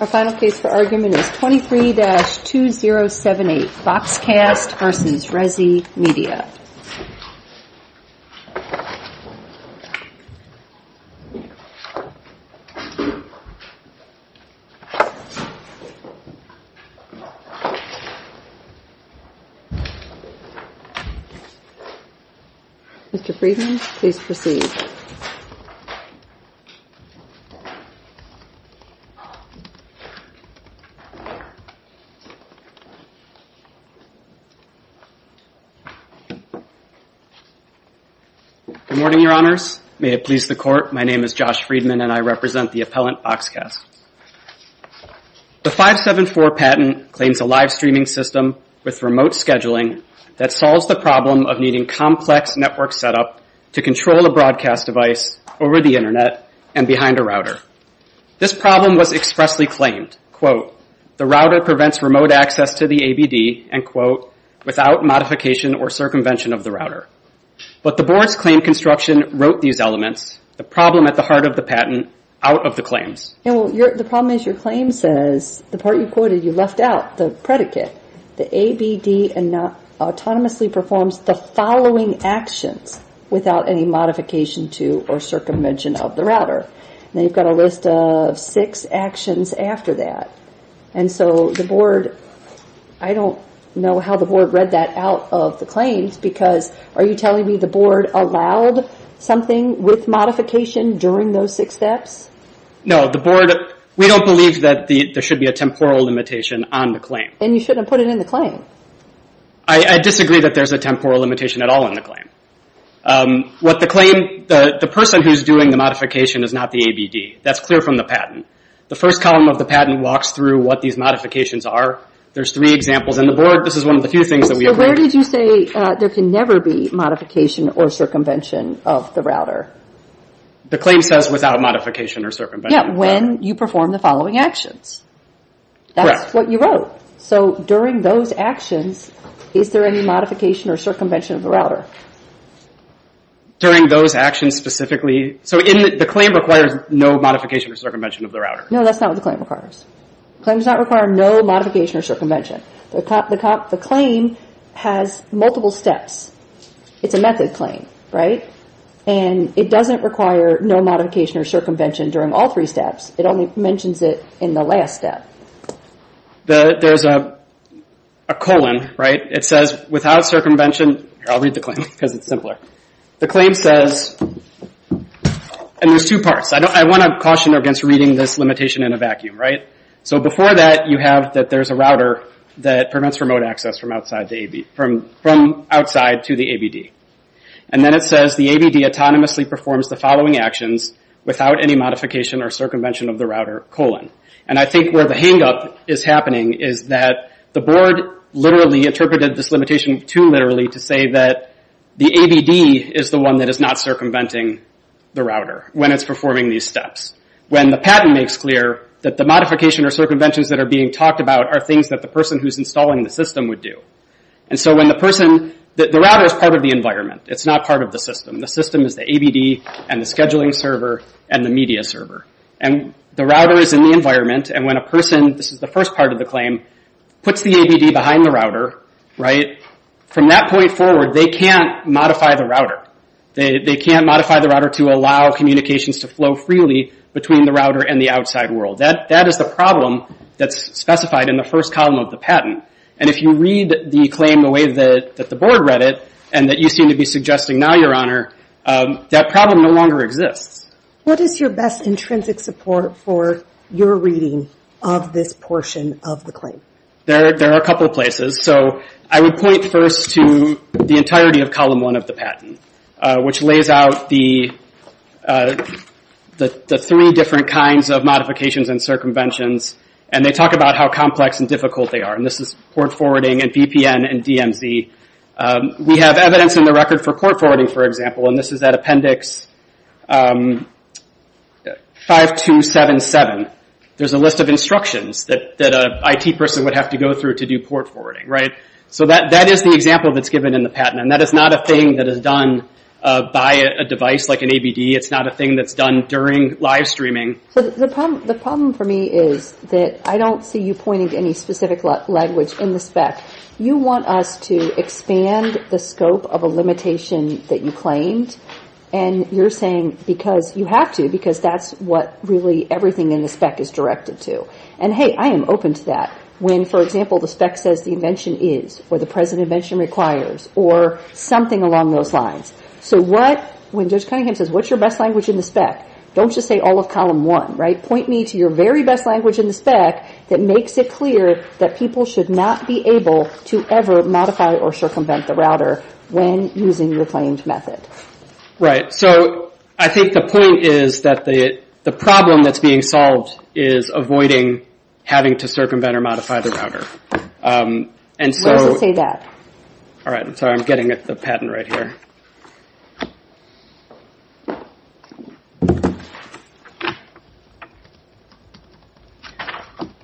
23-2078 FoxCast v. Resi Media Good morning, Your Honors. May it please the Court, my name is Josh Friedman and I represent the appellant FoxCast. The 574 patent claims a live streaming system with remote scheduling that solves the problem of needing complex network setup to control a broadcast device over the internet and behind a router. This problem was expressly claimed, quote, the router prevents remote access to the ABD, end quote, without modification or circumvention of the router. But the Board's claim construction wrote these elements, the problem at the heart of the patent, out of the claims. Yeah, well, the problem is your claim says, the part you quoted, you left out, the predicate, the ABD autonomously performs the following actions without any modification to or circumvention of the router. And you've got a list of six actions after that. And so the Board, I don't know how the Board read that out of the claims because are you telling me the Board allowed something with modification during those six steps? No, the Board, we don't believe that there should be a temporal limitation on the claim. And you shouldn't have put it in the claim. I disagree that there's a temporal limitation at all in the claim. What the claim, the person who's doing the modification is not the ABD. That's clear from the patent. The first column of the patent walks through what these modifications are. There's three examples in the Board. This is one of the few things that we agree on. So where did you say there can never be modification or circumvention of the router? The claim says without modification or circumvention. Yeah, when you perform the following actions. That's what you wrote. So during those actions, is there any modification or circumvention of the router? During those actions specifically, so the claim requires no modification or circumvention of the router. No, that's not what the claim requires. The claim does not require no modification or circumvention. The claim has multiple steps. It's a method claim, right? And it doesn't require no modification or circumvention during all three steps. It only mentions it in the last step. There's a colon, right? It says without circumvention. I'll read the claim because it's simpler. The claim says, and there's two parts. I want to caution against reading this limitation in a vacuum, right? So before that, you have that there's a router that prevents remote access from outside to the ABD. And then it says the ABD autonomously performs the following actions without any modification or circumvention of the router, colon. And I think where the hangup is happening is that the board literally interpreted this limitation too literally to say that the ABD is the one that is not circumventing the router when it's performing these steps. When the patent makes clear that the modification or circumventions that are being talked about are things that the person who's installing the system would do. And so when the person, the router is part of the environment. It's not part of the system. The system is the ABD and the scheduling server and the media server. And the router is in the environment. And when a person, this is the first part of the claim, puts the ABD behind the router, right? From that point forward, they can't modify the router. They can't modify the router to allow communications to flow freely between the router and the outside world. That is the problem that's specified in the first column of the patent. And if you read the claim the way that the board read it and that you seem to be suggesting now, Your Honor, that problem no longer exists. What is your best intrinsic support for your reading of this portion of the claim? There are a couple of places. So I would point first to the entirety of column one of the patent, which lays out the three different kinds of modifications and circumventions. And they talk about how complex and difficult they are. And this is port forwarding and VPN and DMZ. We have evidence in the record for port forwarding, for example. And this is at Appendix 5277. There's a list of instructions that an IT person would have to go through to do port forwarding, right? So that is the example that's given in the patent. And that is not a thing that is done by a device like an ABD. It's not a thing that's done during live streaming. The problem for me is that I don't see you pointing to any specific language in the spec. You want us to expand the scope of a limitation that you claimed. And you're saying because you have to, because that's what really everything in the spec is directed to. And hey, I am open to that. When, for example, the spec says the invention is, or the present invention requires, or something along those lines. So when Judge Cunningham says, what's your best language in the spec, don't just say all of column one, right? Point me to your very best language in the spec that makes it clear that people should not be able to ever modify or circumvent the router when using your claimed method. Right. So I think the point is that the problem that's being solved is avoiding having to circumvent or modify the router. Why does it say that? All right. I'm sorry. I'm getting the patent right here.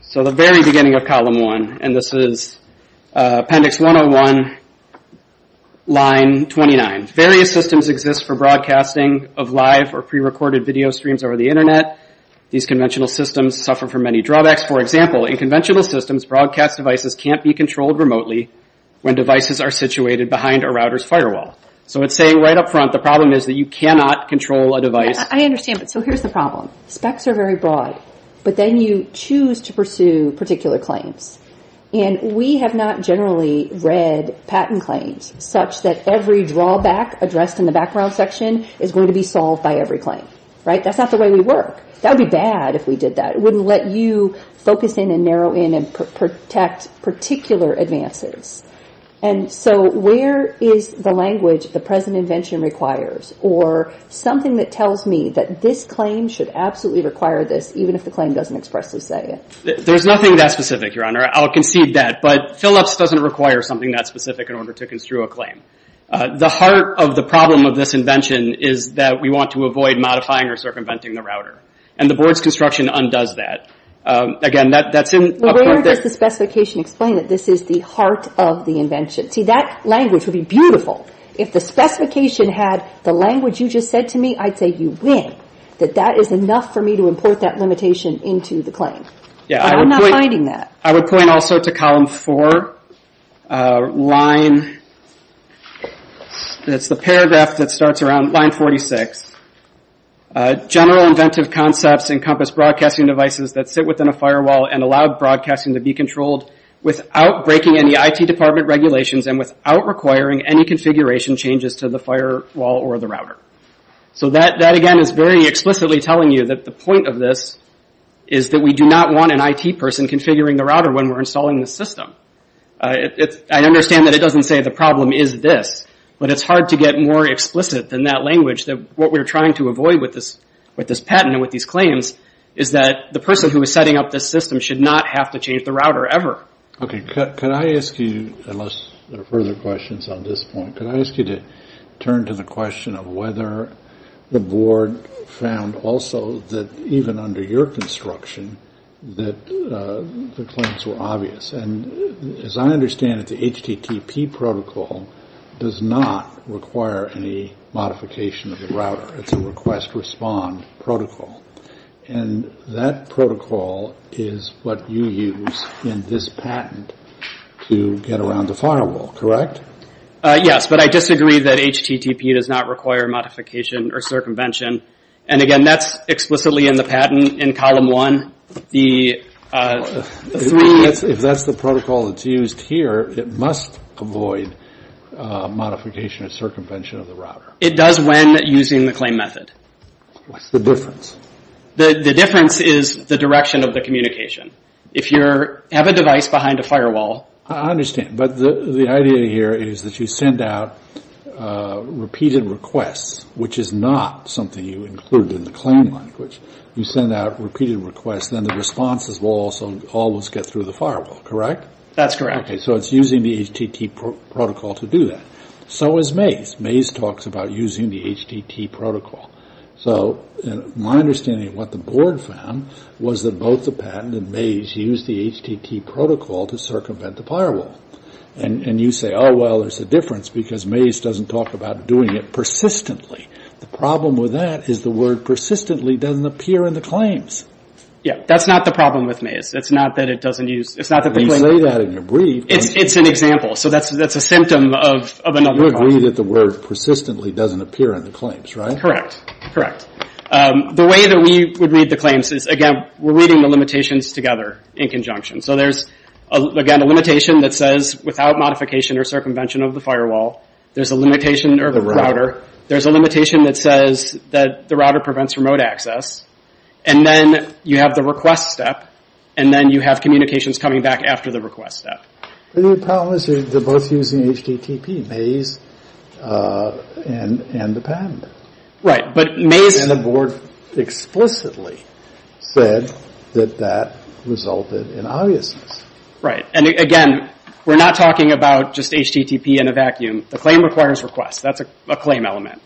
So the very beginning of column one, and this is appendix 101, line 29. Various systems exist for broadcasting of live or pre-recorded video streams over the These conventional systems suffer from many drawbacks. For example, in conventional systems, broadcast devices can't be controlled remotely when devices are situated behind a router's firewall. So it's saying right up front, the problem is that you cannot control a device. I understand, but so here's the problem. Specs are very broad, but then you choose to pursue particular claims, and we have not generally read patent claims such that every drawback addressed in the background section is going to be solved by every claim, right? That's not the way we work. That would be bad if we did that. It wouldn't let you focus in and narrow in and protect particular advances. And so where is the language the present invention requires, or something that tells me that this claim should absolutely require this, even if the claim doesn't expressly say it? There's nothing that specific, Your Honor. I'll concede that. But Philips doesn't require something that specific in order to construe a claim. The heart of the problem of this invention is that we want to avoid modifying or circumventing the router. And the board's construction undoes that. Again, that's in up there. Where does the specification explain that this is the heart of the invention? See, that language would be beautiful. If the specification had the language you just said to me, I'd say you win. That that is enough for me to import that limitation into the claim. But I'm not finding that. I would point also to column four, line, that's the paragraph that starts around line 46. General inventive concepts encompass broadcasting devices that sit within a firewall and allow broadcasting to be controlled without breaking any IT department regulations and without requiring any configuration changes to the firewall or the router. So that again is very explicitly telling you that the point of this is that we do not want an IT person configuring the router when we're installing the system. I understand that it doesn't say the problem is this, but it's hard to get more explicit than that language that what we're trying to avoid with this patent and with these claims is that the person who is setting up this system should not have to change the router ever. Okay. Could I ask you, unless there are further questions on this point, could I ask you to turn to the question of whether the board found also that even under your construction that the claims were obvious. And as I understand it, the HTTP protocol does not require any modification of the router. It's a request respond protocol. And that protocol is what you use in this patent to get around the firewall, correct? Yes, but I disagree that HTTP does not require modification or circumvention. And again, that's explicitly in the patent in column one. If that's the protocol that's used here, it must avoid modification or circumvention of the router. It does when using the claim method. What's the difference? The difference is the direction of the communication. If you have a device behind a firewall... I understand, but the idea here is that you send out repeated requests, which is not something you include in the claim language. You send out repeated requests, then the responses will always get through the firewall, correct? That's correct. So it's using the HTTP protocol to do that. So is MAZE. MAZE talks about using the HTTP protocol. So my understanding of what the board found was that both the patent and MAZE used the HTTP protocol to circumvent the firewall. And you say, oh, well, there's a difference because MAZE doesn't talk about doing it persistently. The problem with that is the word persistently doesn't appear in the claims. Yeah, that's not the problem with MAZE. It's not that it doesn't use... You say that in your brief. It's an example. So that's a symptom of another problem. You agree that the word persistently doesn't appear in the claims, right? Correct, correct. The way that we would read the claims is, again, we're reading the limitations together in conjunction. So there's, again, a limitation that says without modification or circumvention of the firewall. There's a limitation of the router. There's a limitation that says that the router prevents remote access. And then you have the request step. And then you have communications coming back after the request step. The problem is they're both using HTTP, MAZE and the patent. Right, but MAZE... And the board explicitly said that that resulted in obviousness. Right, and again, we're not talking about just HTTP in a vacuum. The claim requires requests. That's a claim element.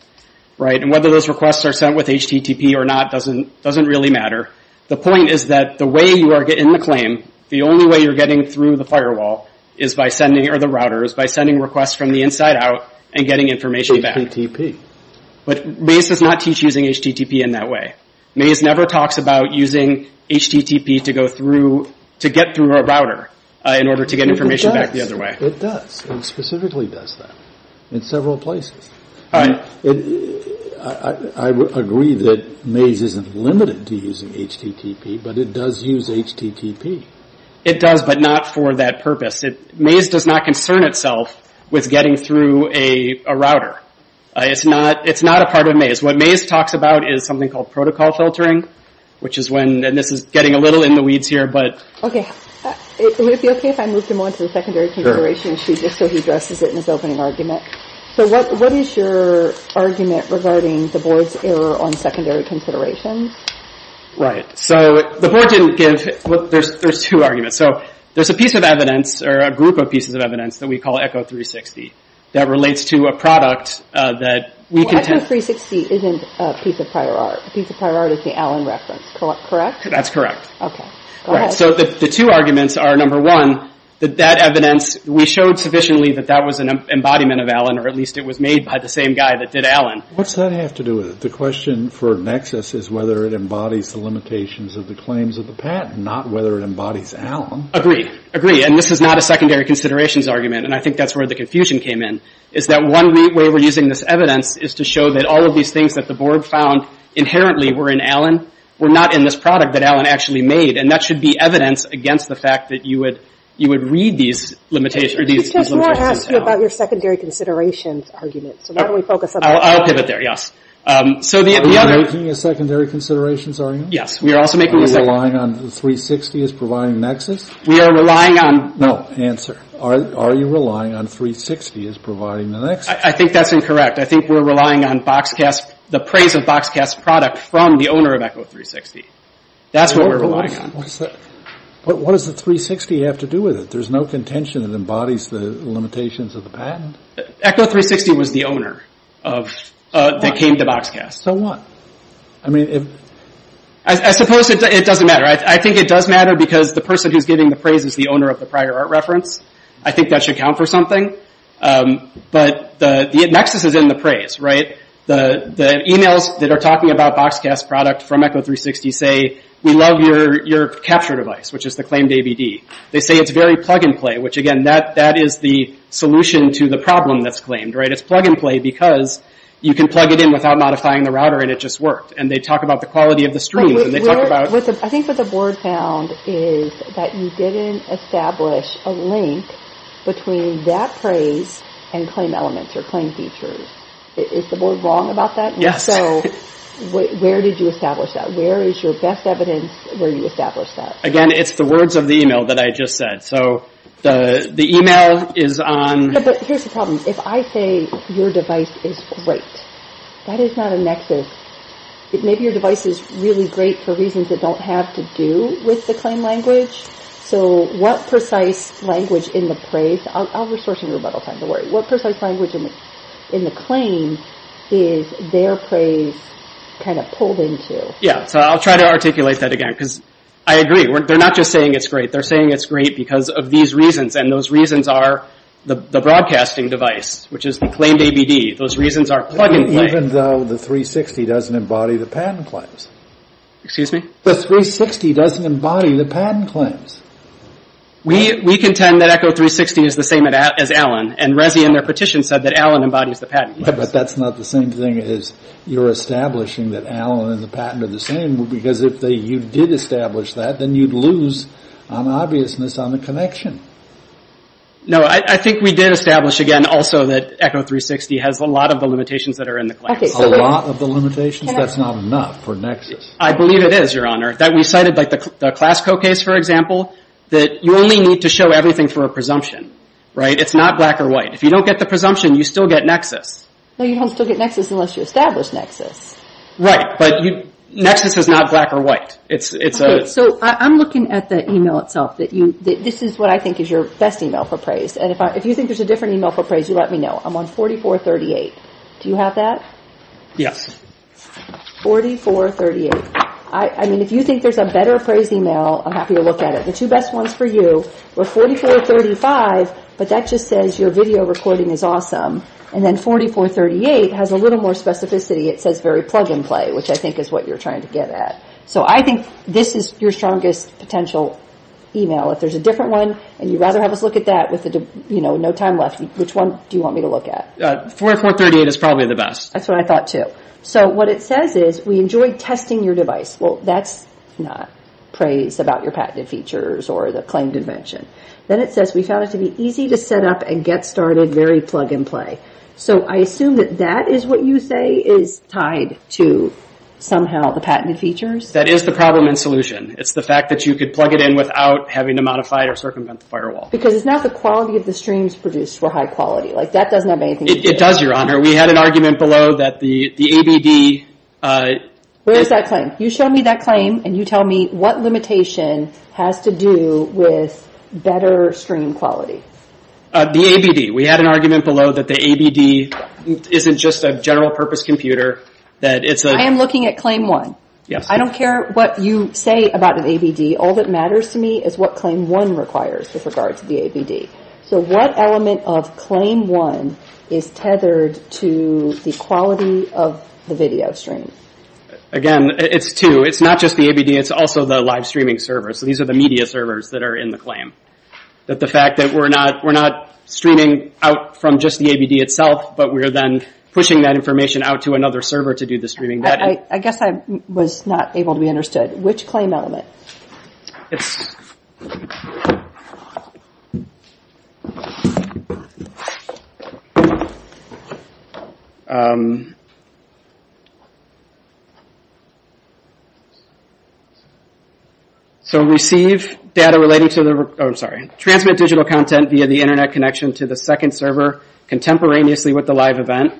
Right, and whether those requests are sent with HTTP or not doesn't really matter. The point is that the way you are getting the claim, the only way you're getting through the firewall is by sending... Or the router is by sending requests from the inside out and getting information back. But MAZE does not teach using HTTP in that way. MAZE never talks about using HTTP to go through... To get through a router in order to get information back the other way. It does. It specifically does that in several places. I agree that MAZE isn't limited to using HTTP, but it does use HTTP. It does, but not for that purpose. MAZE does not concern itself with getting through a router. It's not a part of MAZE. What MAZE talks about is something called protocol filtering, which is when... And this is getting a little in the weeds here, but... Would it be okay if I moved him on to the secondary consideration issue just so he addresses it in his opening argument? What is your argument regarding the board's error on secondary considerations? Right, so the board didn't give... There's two arguments. There's a piece of evidence, or a group of pieces of evidence, that we call ECHO 360, that relates to a product that... ECHO 360 isn't a piece of prior art. A piece of prior art is the Allen reference, correct? That's correct. So the two arguments are, number one, that that evidence... We showed sufficiently that that was an embodiment of Allen, or at least it was made by the same guy that did Allen. What's that have to do with it? The question for Nexus is whether it embodies the limitations of the claims of the patent, not whether it embodies Allen. Agree. Agree. And this is not a secondary considerations argument, and I think that's where the confusion came in, is that one way we're using this evidence is to show that all of these things that the board found inherently were in Allen were not in this product that Allen actually made, and that should be evidence against the fact that you would read these limitations in town. He just won't ask you about your secondary considerations argument, so why don't we focus on... I'll pivot there, yes. So the other... Are we making a secondary considerations argument? Yes, we are also making a secondary... Are we relying on 360 as providing Nexus? We are relying on... No, answer. Are you relying on 360 as providing the Nexus? I think that's incorrect. I think we're relying on BoxCast... the praise of BoxCast's product from the owner of Echo360. That's what we're relying on. What does the 360 have to do with it? There's no contention that embodies the limitations of the patent? Echo360 was the owner that came to BoxCast. So what? I mean, if... I suppose it doesn't matter. I think it does matter because the person who's giving the praise is the owner of the prior art reference. I think that should count for something. But the Nexus is in the praise, right? The emails that are talking about BoxCast's product from Echo360 say, we love your capture device, which is the claimed AVD. They say it's very plug-and-play, which again, that is the solution to the problem that's claimed, right? It's plug-and-play because you can plug it in without modifying the router, and it just worked. And they talk about the quality of the stream, and they talk about... I think what the board found is that you didn't establish a link between that praise and claim elements or claim features. Is the board wrong about that? So where did you establish that? Where is your best evidence where you established that? Again, it's the words of the email that I just said. So the email is on... But here's the problem. If I say your device is great, that is not a Nexus. Maybe your device is really great for reasons that don't have to do with the claim language. So what precise language in the praise... I'll restore some rebuttal time, don't worry. What precise language in the claim is their praise kind of pulled into? Yeah, so I'll try to articulate that again, because I agree. They're not just saying it's great. They're saying it's great because of these reasons, and those reasons are the broadcasting device, which is the claimed ABD. Those reasons are plug-and-play. Even though the 360 doesn't embody the patent claims. Excuse me? The 360 doesn't embody the patent claims. We contend that Echo360 is the same as Allen, and Resi in their petition said that Allen embodies the patent. But that's not the same thing as you're establishing that Allen and the patent are the same, because if you did establish that, then you'd lose on obviousness on the connection. No, I think we did establish, again, also that Echo360 has a lot of the limitations that are in the claim. A lot of the limitations? That's not enough for Nexus. I believe it is, Your Honor. We cited the Classco case, for example, that you only need to show everything for a presumption. It's not black or white. If you don't get the presumption, you still get Nexus. No, you don't still get Nexus unless you establish Nexus. Right, but Nexus is not black or white. I'm looking at the email itself. This is what I think is your best email for praise. If you think there's a different email for praise, you let me know. I'm on 4438. Do you have that? Yes. 4438. If you think there's a better praise email, I'm happy to look at it. The two best ones for you were 4435, but that just says your video recording is awesome. And then 4438 has a little more specificity. It says very plug-and-play, which I think is what you're trying to get at. So I think this is your strongest potential email. If there's a different one, and you'd rather have us look at that with no time left, which one do you want me to look at? 4438 is probably the best. That's what I thought, too. So what it says is, we enjoyed testing your device. Well, that's not praise about your patented features or the claimed invention. Then it says, we found it to be easy to set up and get started, very plug-and-play. So I assume that that is what you say is tied to somehow the patented features? That is the problem and solution. It's the fact that you could plug it in without having to modify it or circumvent the firewall. Because it's not the quality of the streams produced were high quality. That doesn't have anything to do with it. It does, Your Honor. We had an argument below that the ABD... Where is that claim? You show me that claim, and you tell me what limitation has to do with better stream quality. The ABD. We had an argument below that the ABD isn't just a general-purpose computer. I am looking at Claim 1. I don't care what you say about an ABD. All that matters to me is what Claim 1 requires with regard to the ABD. So what element of Claim 1 is tethered to the quality of the video stream? Again, it's two. It's not just the ABD. It's also the live streaming servers. These are the media servers that are in the claim. The fact that we're not streaming out from just the ABD itself, but we're then pushing that information out to another server to do the streaming. I guess I was not able to be understood. Which claim element? So receive data relating to the... Oh, I'm sorry. Transmit digital content via the internet connection to the second server contemporaneously with the live event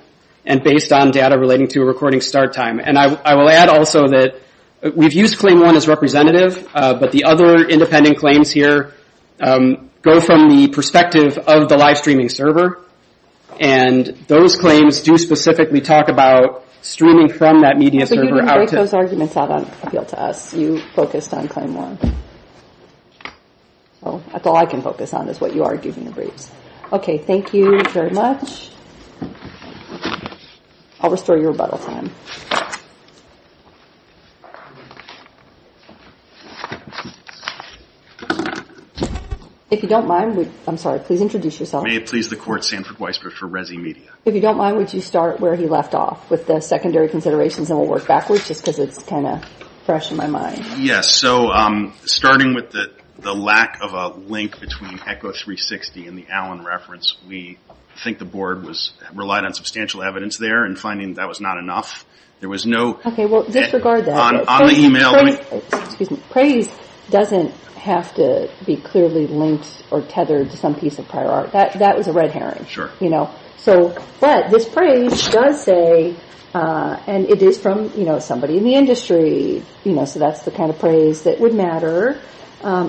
and based on data relating to a recording start time. And I will add also that we've used Claim 1 as representative, but the other independent claims here go from the perspective of the live streaming server. And those claims do specifically talk about streaming from that media server But you didn't take those arguments out on appeal to us. You focused on Claim 1. That's all I can focus on is what you argued in the briefs. Okay, thank you very much. I'll restore your rebuttal time. If you don't mind, I'm sorry, please introduce yourself. May it please the court, Sanford Weisberg for Resi Media. If you don't mind, would you start where he left off with the secondary considerations and we'll work backwards just because it's kind of fresh in my mind. Yes, so starting with the lack of a link between Echo360 and the Allen reference, we think the board was relied on substantial evidence there and finding that was not enough. There was no... Okay, well disregard that. On the email... Praise doesn't have to be clearly linked or tethered to some piece of prior art. That was a red herring. But this praise does say and it is from somebody in the industry, so that's the kind of praise that would matter.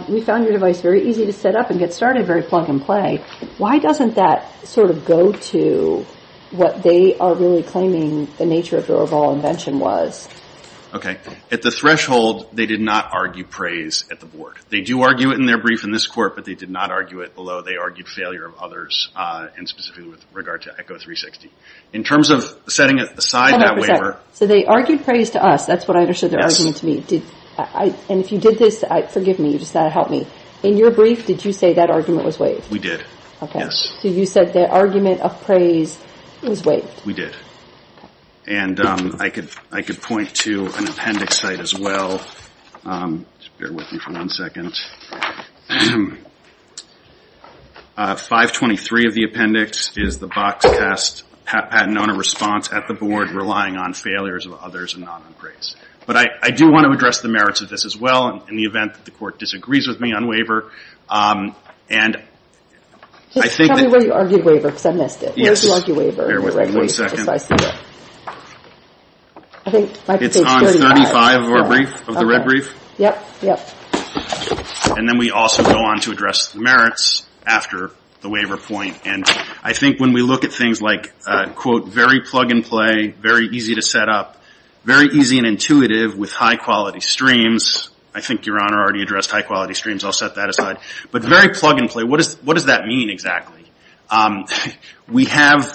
We found your device very easy to set up and get started, very plug and play. Why doesn't that sort of go to what they are really claiming the nature of their overall invention was? Okay, at the threshold, they did not argue praise at the board. They do argue it in their brief in this court but they did not argue it although they argued failure of others and specifically with regard to Echo360. In terms of setting aside that waiver... So they argued praise to us. That's what I understood their argument to be. And if you did this, forgive me, you just had to help me. In your brief, did you say that argument was waived? We did. Okay. Yes. So you said the argument of praise was waived. We did. And I could point to an appendix site as well. Just bear with me for one second. 523 of the appendix is the BoxCast patent owner response at the board relying on failures of others and not on praise. But I do want to address the merits of this as well in the event that the court disagrees with me on waiver. And I think... Tell me where you argued waiver because I missed it. Yes. Where did you argue waiver in the red brief if I see it? Bear with me one second. It's on page 35 of our brief, of the red brief. Okay. Yep. Yep. And then we also go on to address the merits after the waiver point. And I think when we look at things like, quote, very plug and play very easy to set up very easy and intuitive with high quality streams I think your honor already addressed high quality streams I'll set that aside. But very plug and play. What does that mean exactly? We have...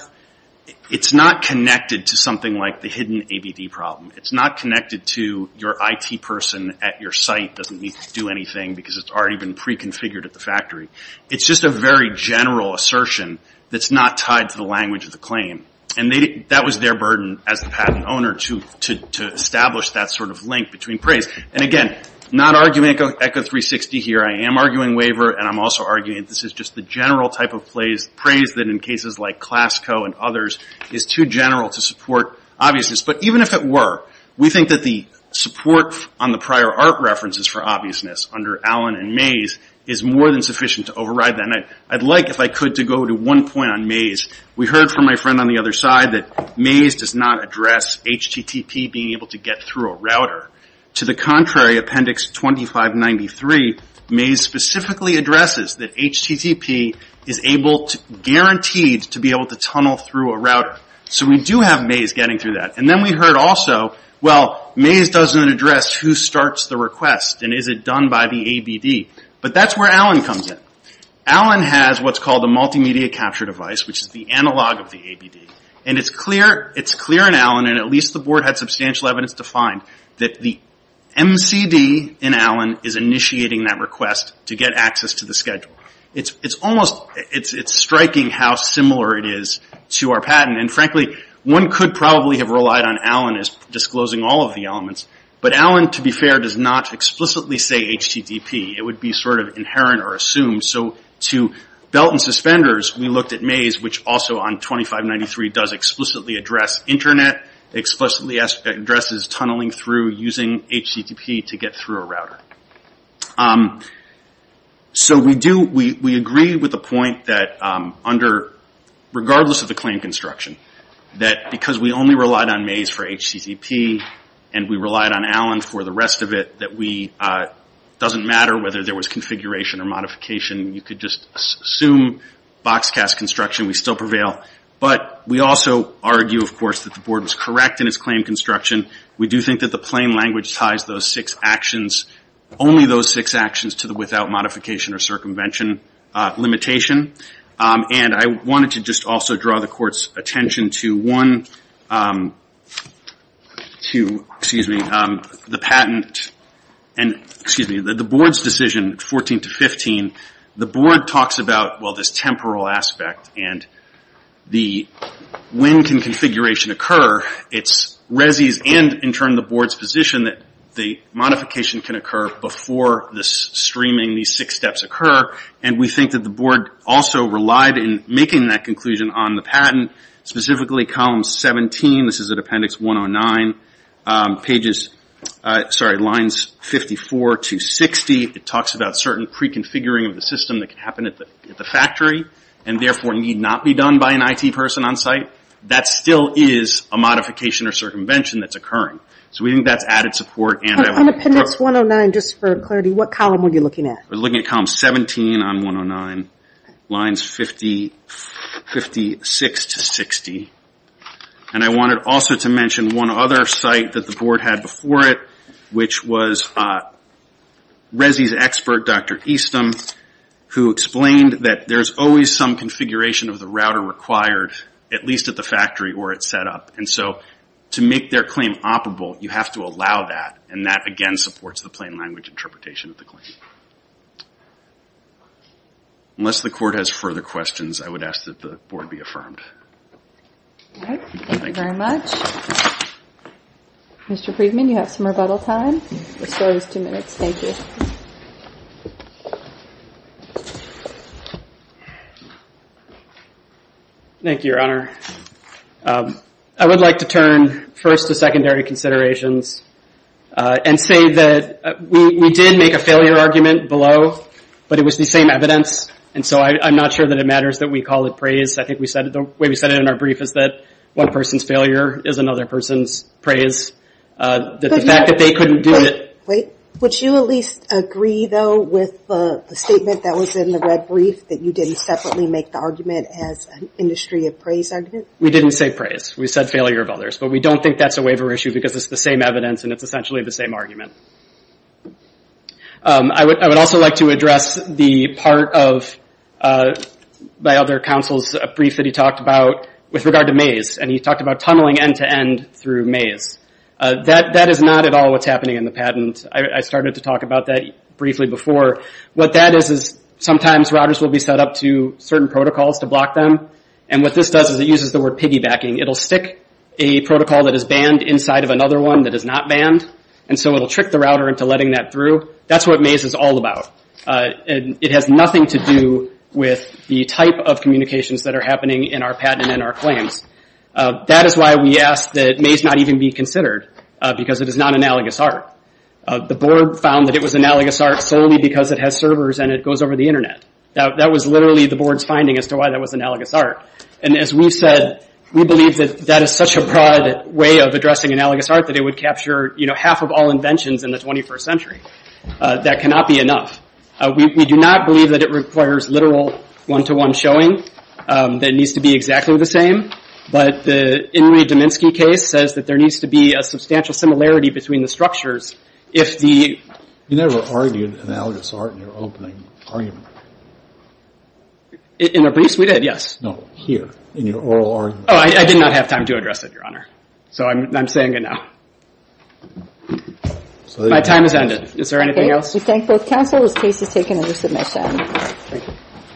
It's not connected to something like the hidden ABD problem. It's not connected to your IT person at your site doesn't need to do anything because it's already been pre-configured at the factory. It's just a very general assertion that's not tied to the language of the claim. And that was their burden as the patent owner to establish that sort of link between praise. And again, not arguing ECHO 360 here. I am arguing waiver and I'm also arguing that this is just the general type of praise that in cases like ClassCo and others is too general to support obviousness. But even if it were, we think that the support on the prior art references for obviousness under Allen and Mays is more than sufficient to override that. And I'd like, if I could, to go to one point on Mays. We heard from my friend on the other side that Mays does not address HTTP being able to get through a router. To the contrary, Appendix 2593, Mays specifically addresses that HTTP is able, to be able to tunnel through a router. So we do have Mays getting through that. And then we heard also, well, Mays doesn't address who starts the request and is it done by the ABD. But that's where Allen comes in. Allen has what's called a multimedia capture device, which is the analog of the ABD. And it's clear in Allen, and at least the board had substantial evidence to find, that the MCD in Allen is initiating that request to get access to the schedule. It's almost, it's striking how similar it is to our patent. And frankly, one could probably have relied on Allen as disclosing all of the elements. But Allen, to be fair, does not explicitly say HTTP. It would be sort of inherent or assumed. So to Belt and Suspenders, we looked at Mays, which also on 2593 does explicitly address internet, explicitly addresses tunneling through, using HTTP to get through a router. So we do, we agree with the point that under, of the claim construction, that because we only relied on Mays for HTTP, and we relied on Allen for the rest of it, that we, it doesn't matter whether there was configuration or modification. You could just assume box cast construction, we still prevail. But we also argue, of course, that the board was correct in its claim construction. We do think that the plain language ties those six actions, only those six actions to the without modification or circumvention limitation. And I wanted to just also draw the court's attention to one, excuse me, the patent, and, excuse me, the board's decision, 14 to 15, the board talks about, this temporal aspect and the, when can configuration occur, it's Resi's and in turn the board's position that the modification can occur before this streaming, these six steps occur, and we think that the board also relied in making that conclusion on the patent, specifically column 17, this is at appendix 109, sorry, lines 54 to 60, it talks about certain pre-configuring of the system that can happen at the factory and therefore need not be done by an IT person on site. That still is a modification or circumvention that's occurring. So we think that's added support and I want to draw. In appendix 109, just for clarity, what column were you looking at? We're looking at column 17 on 109, lines 50, 56 to 60. And I wanted also to mention one other site that the board had before it, which was Resi's expert, Dr. Easton, who explained that there's always some configuration of the router required, at least at the factory where it's set up. And so to make their claim operable, you have to allow that and that again supports the plain language interpretation of the claim. Unless the court has further questions, I would ask that the board be affirmed. All right. Thank you very much. Mr. Friedman, you have some rebuttal time. The floor is two minutes. Thank you. Thank you, Your Honor. I would like to turn first to secondary considerations and say that we did make a failure argument below, but it was the same evidence and so I'm not sure that it matters that we call it praise. I think we said it, the way we said it in our brief is that one person's failure is another person's praise, that the fact that they couldn't do it. Wait, wait. Would you at least agree though with the statement that was in the red brief that you didn't separately make the argument as an industry of praise argument? We didn't say praise. We said failure of others, but we don't think that's a waiver issue because it's the same evidence and it's essentially the same argument. I would also like to address the part of my other counsel's brief that he talked about with regard to Mays and he talked about tunneling end-to-end through Mays. That is not at all what's happening in the patent. I started to talk about that briefly before. What that is is sometimes routers will be set up to certain protocols to block them and what this does is it uses the word piggybacking. It'll stick a protocol that is banned inside of another one that is not banned and so it'll trick the router into letting that through. That's what Mays is all about. It has nothing to do with the type of communications that are happening in our patent and in our claims. That is why we ask that Mays not even be considered because it is non-analogous art. The board found that it was analogous art solely because it has servers and it goes over the internet. That was literally the board's finding as to why that was analogous art and as we said we believe that that is such a broad way of addressing analogous art that it would capture half of all inventions in the 21st century. That cannot be enough. We do not believe that it requires literal one-to-one showing that needs to be exactly the same but the Inouye-Dominski case says that there needs to be a substantial similarity between the structures if the... You never argued analogous art in your opening argument. In our briefs? We did, yes. No, here in your oral argument. Oh, I did not have time to address it, Your Honor. So I'm saying it now. My time has ended. Is there anything else? We thank both counsel as case is taken under submission.